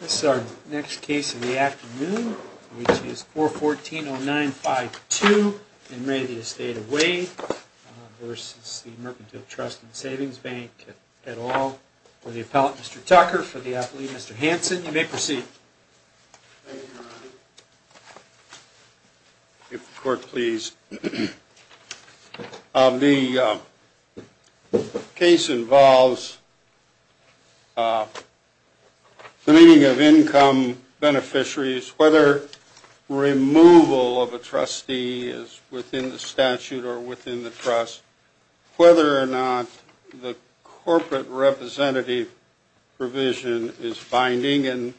This is our next case in the afternoon, which is 414 oh nine five two and maybe a state of way Versus the Mercantile Trust and Savings Bank at all for the appellate. Mr. Tucker for the athlete. Mr. Hanson. You may proceed If the court please The Case involves The Meaning of income beneficiaries whether Removal of a trustee is within the statute or within the trust whether or not the corporate representative provision is binding and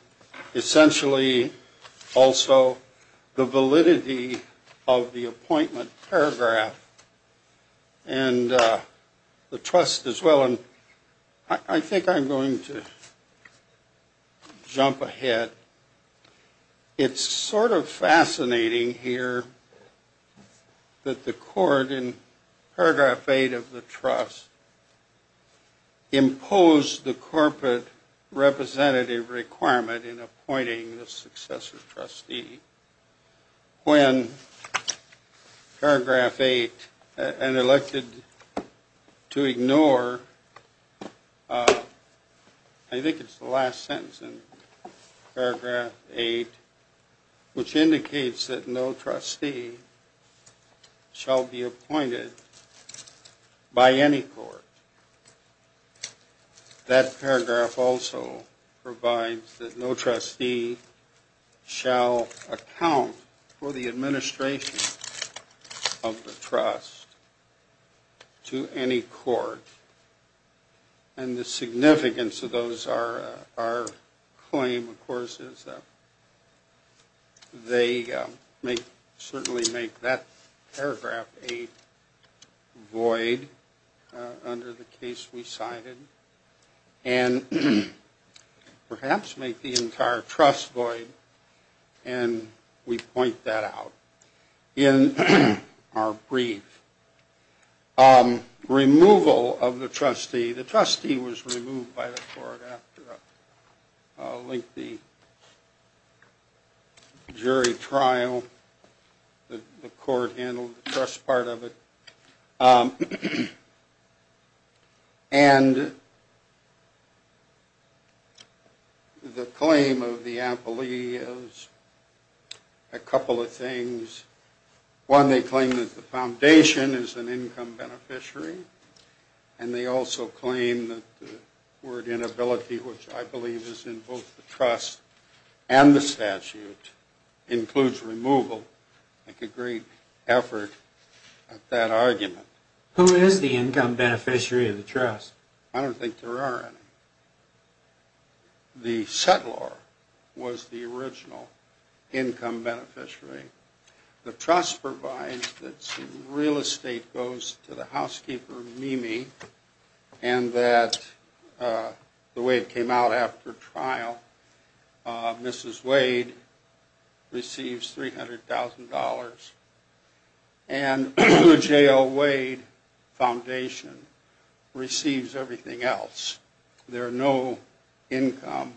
essentially also the validity of the appointment paragraph and The trust as well, and I think I'm going to Jump ahead It's sort of fascinating here That the court in paragraph eight of the trust Imposed the corporate representative requirement in appointing the successor trustee when Paragraph eight and elected to ignore I Think it's the last sentence in paragraph eight which indicates that no trustee Shall be appointed by any court That paragraph also provides that no trustee Shall account for the administration of the trust to any court and the significance of those are our claim of course is They may certainly make that paragraph a void under the case we cited and Perhaps make the entire trust void and We point that out in our brief Removal of the trustee the trustee was removed by the court after a lengthy Jury trial the court handled the trust part of it And The claim of the ampullae is a couple of things one they claim that the foundation is an income beneficiary and They also claim that the word inability which I believe is in both the trust and the statute Includes removal like a great effort That argument who is the income beneficiary of the trust? I don't think there are any The settlor was the original income beneficiary the trust provides that's real estate goes to the housekeeper Mimi and that The way it came out after trial Mrs. Wade receives $300,000 and the jail Wade foundation Receives everything else. There are no income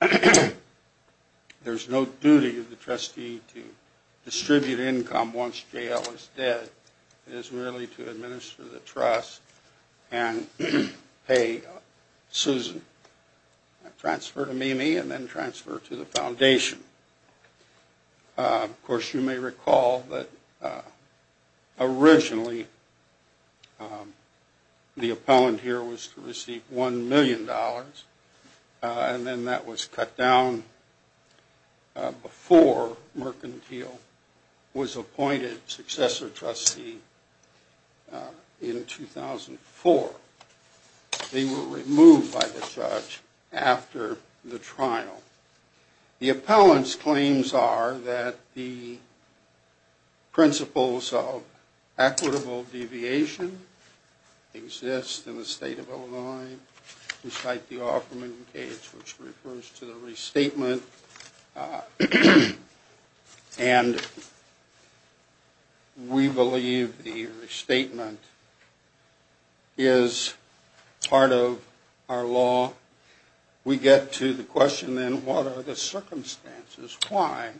There's no duty of the trustee to Distribute income once jail is dead. It is really to administer the trust and pay Susan Transfer to Mimi and then transfer to the foundation Of course you may recall that Originally The appellant here was to receive 1 million dollars and then that was cut down Before mercantile was appointed successor trustee in 2004 They were removed by the judge after the trial the appellants claims are that the Principles of equitable deviation Exists in the state of Illinois. We cite the offerment case which refers to the restatement And We believe the restatement is part of our law We get to the question then. What are the circumstances? Why?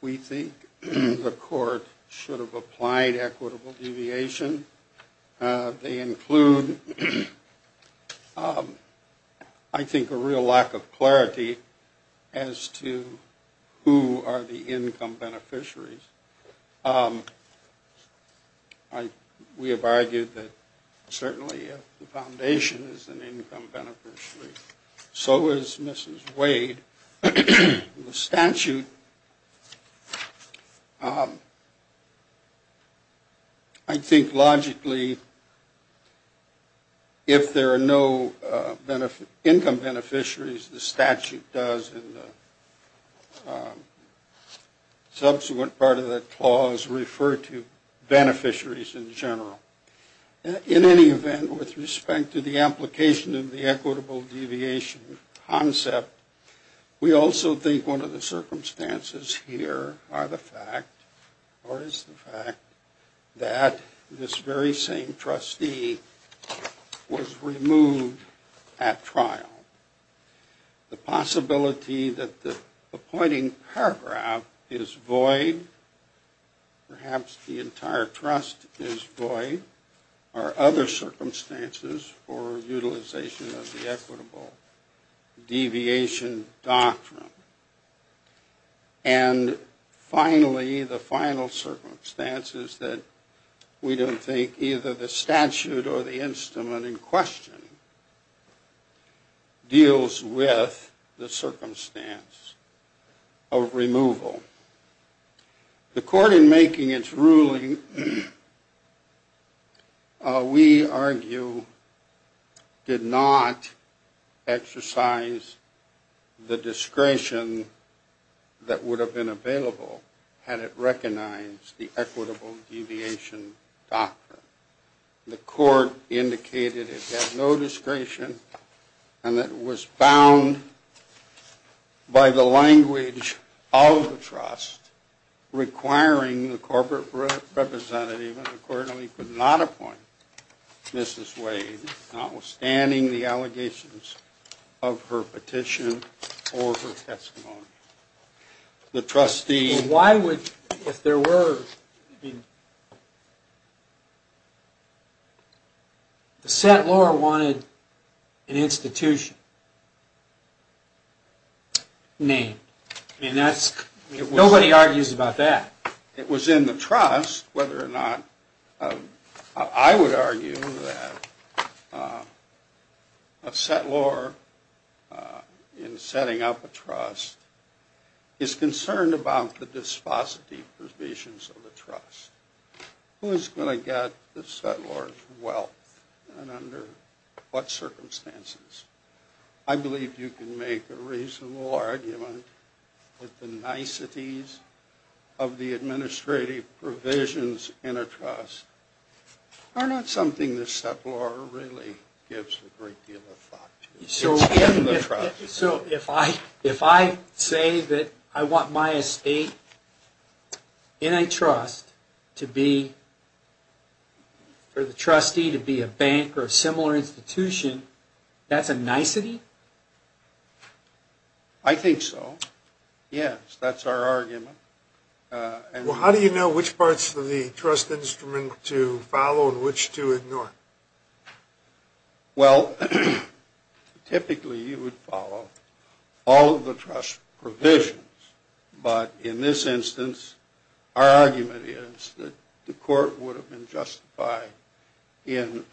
We think the court should have applied equitable deviation they include I Think a real lack of clarity as to who are the income beneficiaries? Like we have argued that certainly a foundation is an income beneficiary So is mrs. Wade Statue I Think logically If there are no benefit income beneficiaries the statute does Subsequent part of the clause referred to beneficiaries in general In any event with respect to the application of the equitable deviation concept We also think one of the circumstances here are the fact Or is the fact that? this very same trustee was removed at trial The possibility that the appointing paragraph is void Perhaps the entire trust is void or other circumstances or utilization of the equitable Deviation doctrine and Finally the final circumstances that we don't think either the statute or the instrument in question Deals with the circumstance of removal the court in making its ruling We argue Did not exercise the discretion That would have been available had it recognized the equitable deviation doctrine the court Indicated it has no discretion and that was found By the language of the trust requiring the corporate representative Accordingly could not appoint Mrs. Wade outstanding the allegations of her petition The trustee why would if there were The set Laura wanted an institution Name and that's nobody argues about that. It was in the trust whether or not I would argue that a Set law in setting up a trust Is concerned about the dispositive provisions of the trust? Who is going to get the settlers? Well and under what circumstances I? believe you can make a reasonable argument with the niceties of the administrative provisions in a trust Are not something this step Laura really gives a great deal of thought so So if I if I say that I want my estate in a trust to be For the trustee to be a bank or a similar institution, that's a nicety I Think so yes, that's our argument Well, how do you know which parts of the trust instrument to follow in which to ignore Well Typically you would follow all of the trust provisions but in this instance our argument is that the court would have been justified in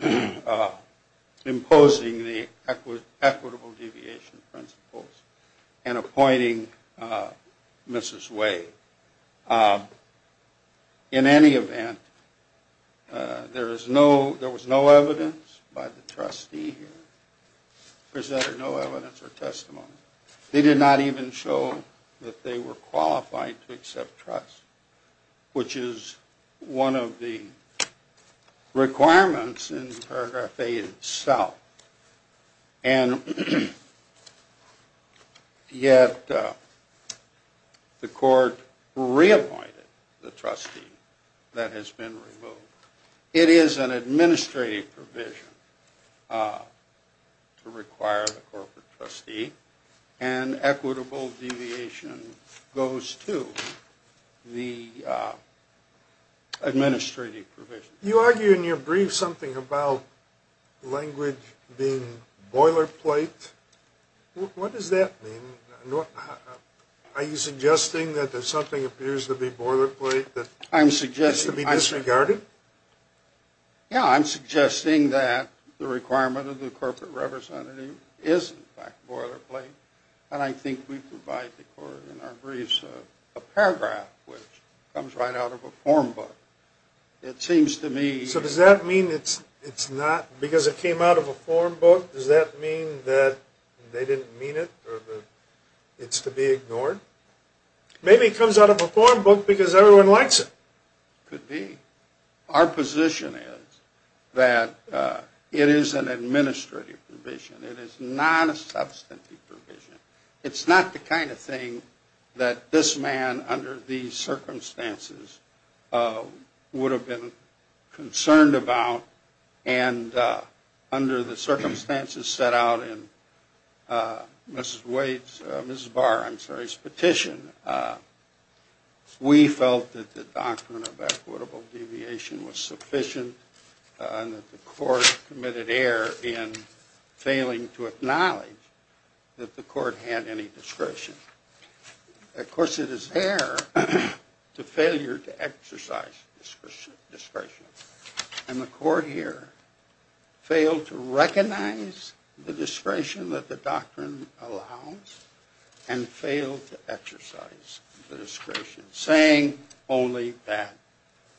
Imposing the Principles and appointing Mrs.. Way In any event There is no there was no evidence by the trustee Presented no evidence or testimony. They did not even show that they were qualified to accept trust which is one of the Requirements in paragraph a itself and Yet The court reappointed the trustee that has been removed it is an administrative provision To require the corporate trustee and equitable deviation goes to the Administrative provision you argue in your brief something about Language being boilerplate What does that mean Are you suggesting that there's something appears to be boilerplate that I'm suggesting to be disregarded? Yeah, I'm suggesting that the requirement of the corporate representative is Boilerplate, and I think we provide the court in our briefs a paragraph which comes right out of a form book It seems to me so does that mean it's it's not because it came out of a form book does that mean that They didn't mean it It's to be ignored Maybe it comes out of a form book because everyone likes it could be our position is that It is an administrative provision. It is not a substantive provision It's not the kind of thing that this man under these circumstances Would have been concerned about and Under the circumstances set out in Mrs. Wade's, Mrs. Barr, I'm sorry, his petition We felt that the doctrine of equitable deviation was sufficient And that the court committed error in failing to acknowledge That the court had any discretion Of course it is error To failure to exercise Discretion and the court here failed to recognize the discretion that the doctrine allows and failed to exercise the discretion saying only that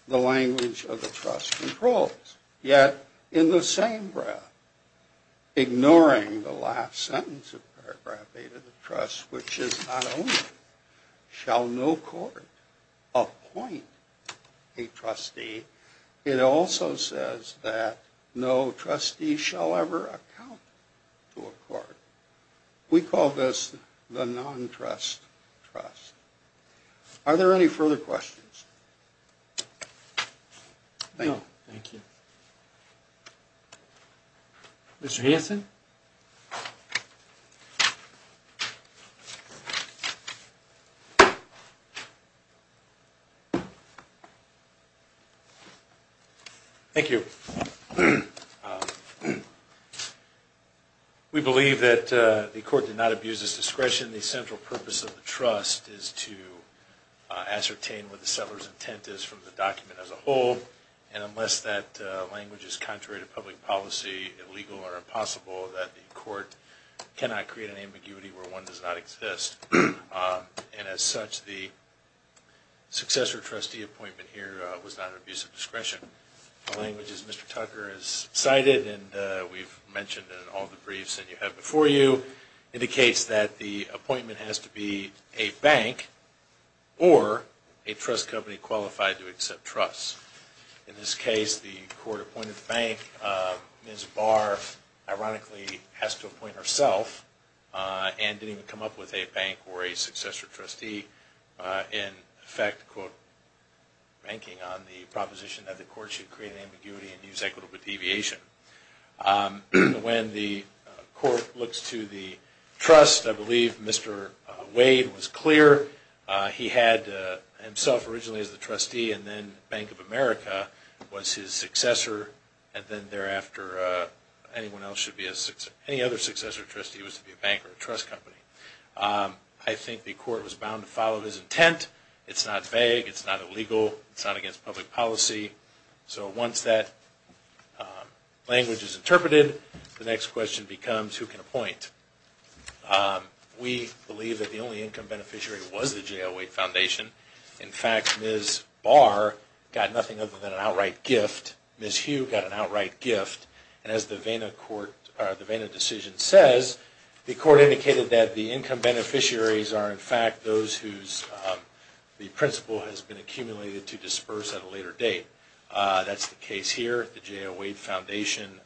The language of the trust controls yet in the same breath Ignoring the last sentence of paragraph 8 of the trust which is not only Shall no court appoint a Trustee it also says that no trustee shall ever account to a court We call this the non trust trust Are there any further questions? Thank you Mr. Hanson Thank You We believe that the court did not abuse this discretion the central purpose of the trust is to ascertain what the settlers intent is from the document as a whole and unless that Language is contrary to public policy illegal or impossible that the court cannot create an ambiguity where one does not exist and as such the Successor trustee appointment here was not an abuse of discretion Languages, mr. Tucker is cited and we've mentioned in all the briefs and you have before you Indicates that the appointment has to be a bank Or a trust company qualified to accept trust in this case the court appointed bank is bar Ironically has to appoint herself And didn't come up with a bank or a successor trustee in effect quote Banking on the proposition that the court should create ambiguity and use equitable deviation When the court looks to the trust I believe mr. Wade was clear He had himself originally as the trustee and then Bank of America was his successor and then thereafter Anyone else should be a six any other successor trustee was to be a bank or a trust company I think the court was bound to follow his intent. It's not vague. It's not illegal. It's not against public policy so once that Language is interpreted the next question becomes who can appoint We believe that the only income beneficiary was the jail wait foundation in fact is bar Got nothing other than an outright gift Miss Hugh got an outright gift and as the vena court the vena decision says the court indicated that the income beneficiaries are in fact those whose The principal has been accumulated to disperse at a later date That's the case here at the jail wait foundation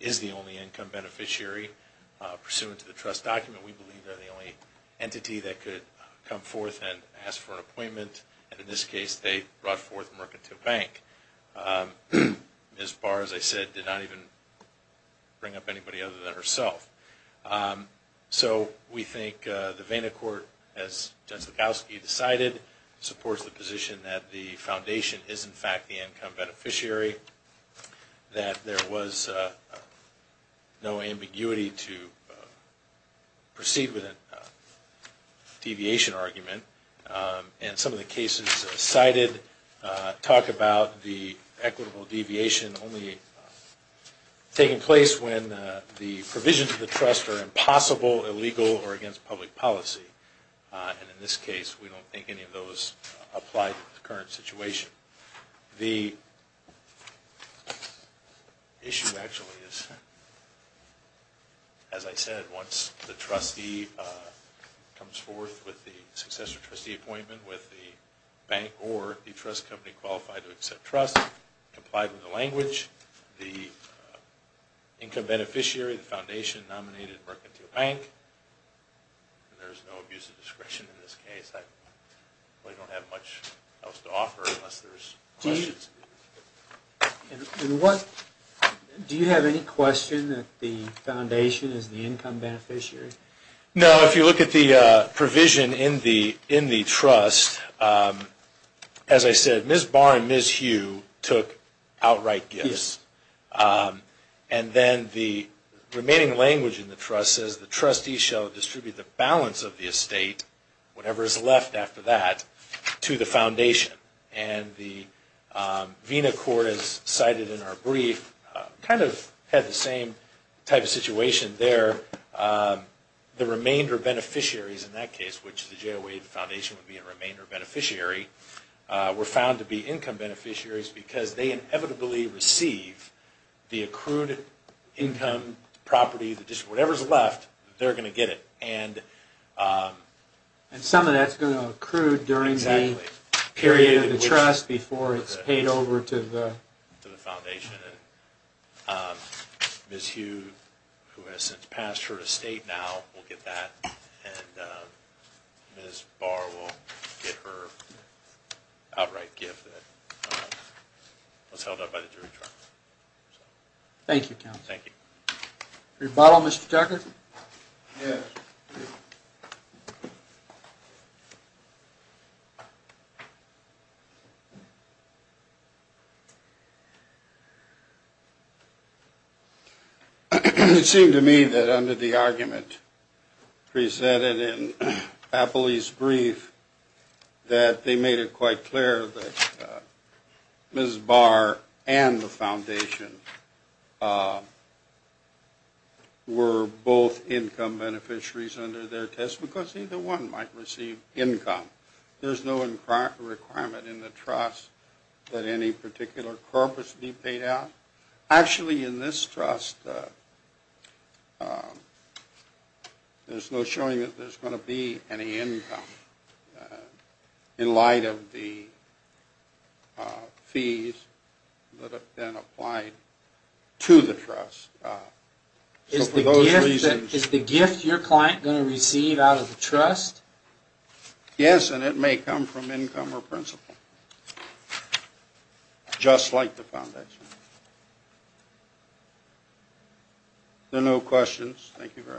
is the only income beneficiary pursuant to the trust document Entity that could come forth and ask for an appointment and in this case they brought forth a mercantile bank This bar as I said did not even Bring up anybody other than herself so we think the vena court as Jessica you decided Supports the position that the foundation is in fact the income beneficiary that there was no ambiguity to Proceed with a Deviation argument and some of the cases cited talk about the equitable deviation only Taking place when the provisions of the trust are impossible illegal or against public policy And in this case, we don't think any of those applied to the current situation the Issue actually is As I said once the trustee comes forth with the successor trustee appointment with the bank or the trust company qualified to accept trust complied with the language the Income beneficiary the foundation nominated mercantile bank There's no use of discretion in this case. I don't have much else to offer unless there's And what Do you have any question that the foundation is the income beneficiary? No, if you look at the provision in the in the trust As I said, miss bar and miss you took outright gifts and then the Remaining language in the trust says the trustee shall distribute the balance of the estate whatever is left after that to the foundation and the Vena court is cited in our brief kind of had the same type of situation there The remainder beneficiaries in that case which the jail wave foundation would be a remainder beneficiary We're found to be income beneficiaries because they inevitably receive the accrued income property the district whatever's left they're gonna get it and And some of that's going to accrue during the period of the trust before it's paid over to the foundation Miss you who has since passed her estate now we'll get that and Miss bar will get her outright gift Let's held up by the jury trial Thank you. Thank you your bottle mr. Tucker You It seemed to me that under the argument Presented in a police brief that they made it quite clear that Miss bar and the foundation Were Both income beneficiaries under their test because either one might receive income There's no in crack requirement in the trust that any particular corpus be paid out actually in this trust There's no showing that there's going to be any income in light of the Fees that have been applied to the trust Is the reason is the gift your client going to receive out of the trust? Yes, and it may come from income or principle Just like the foundation There are no questions, thank you very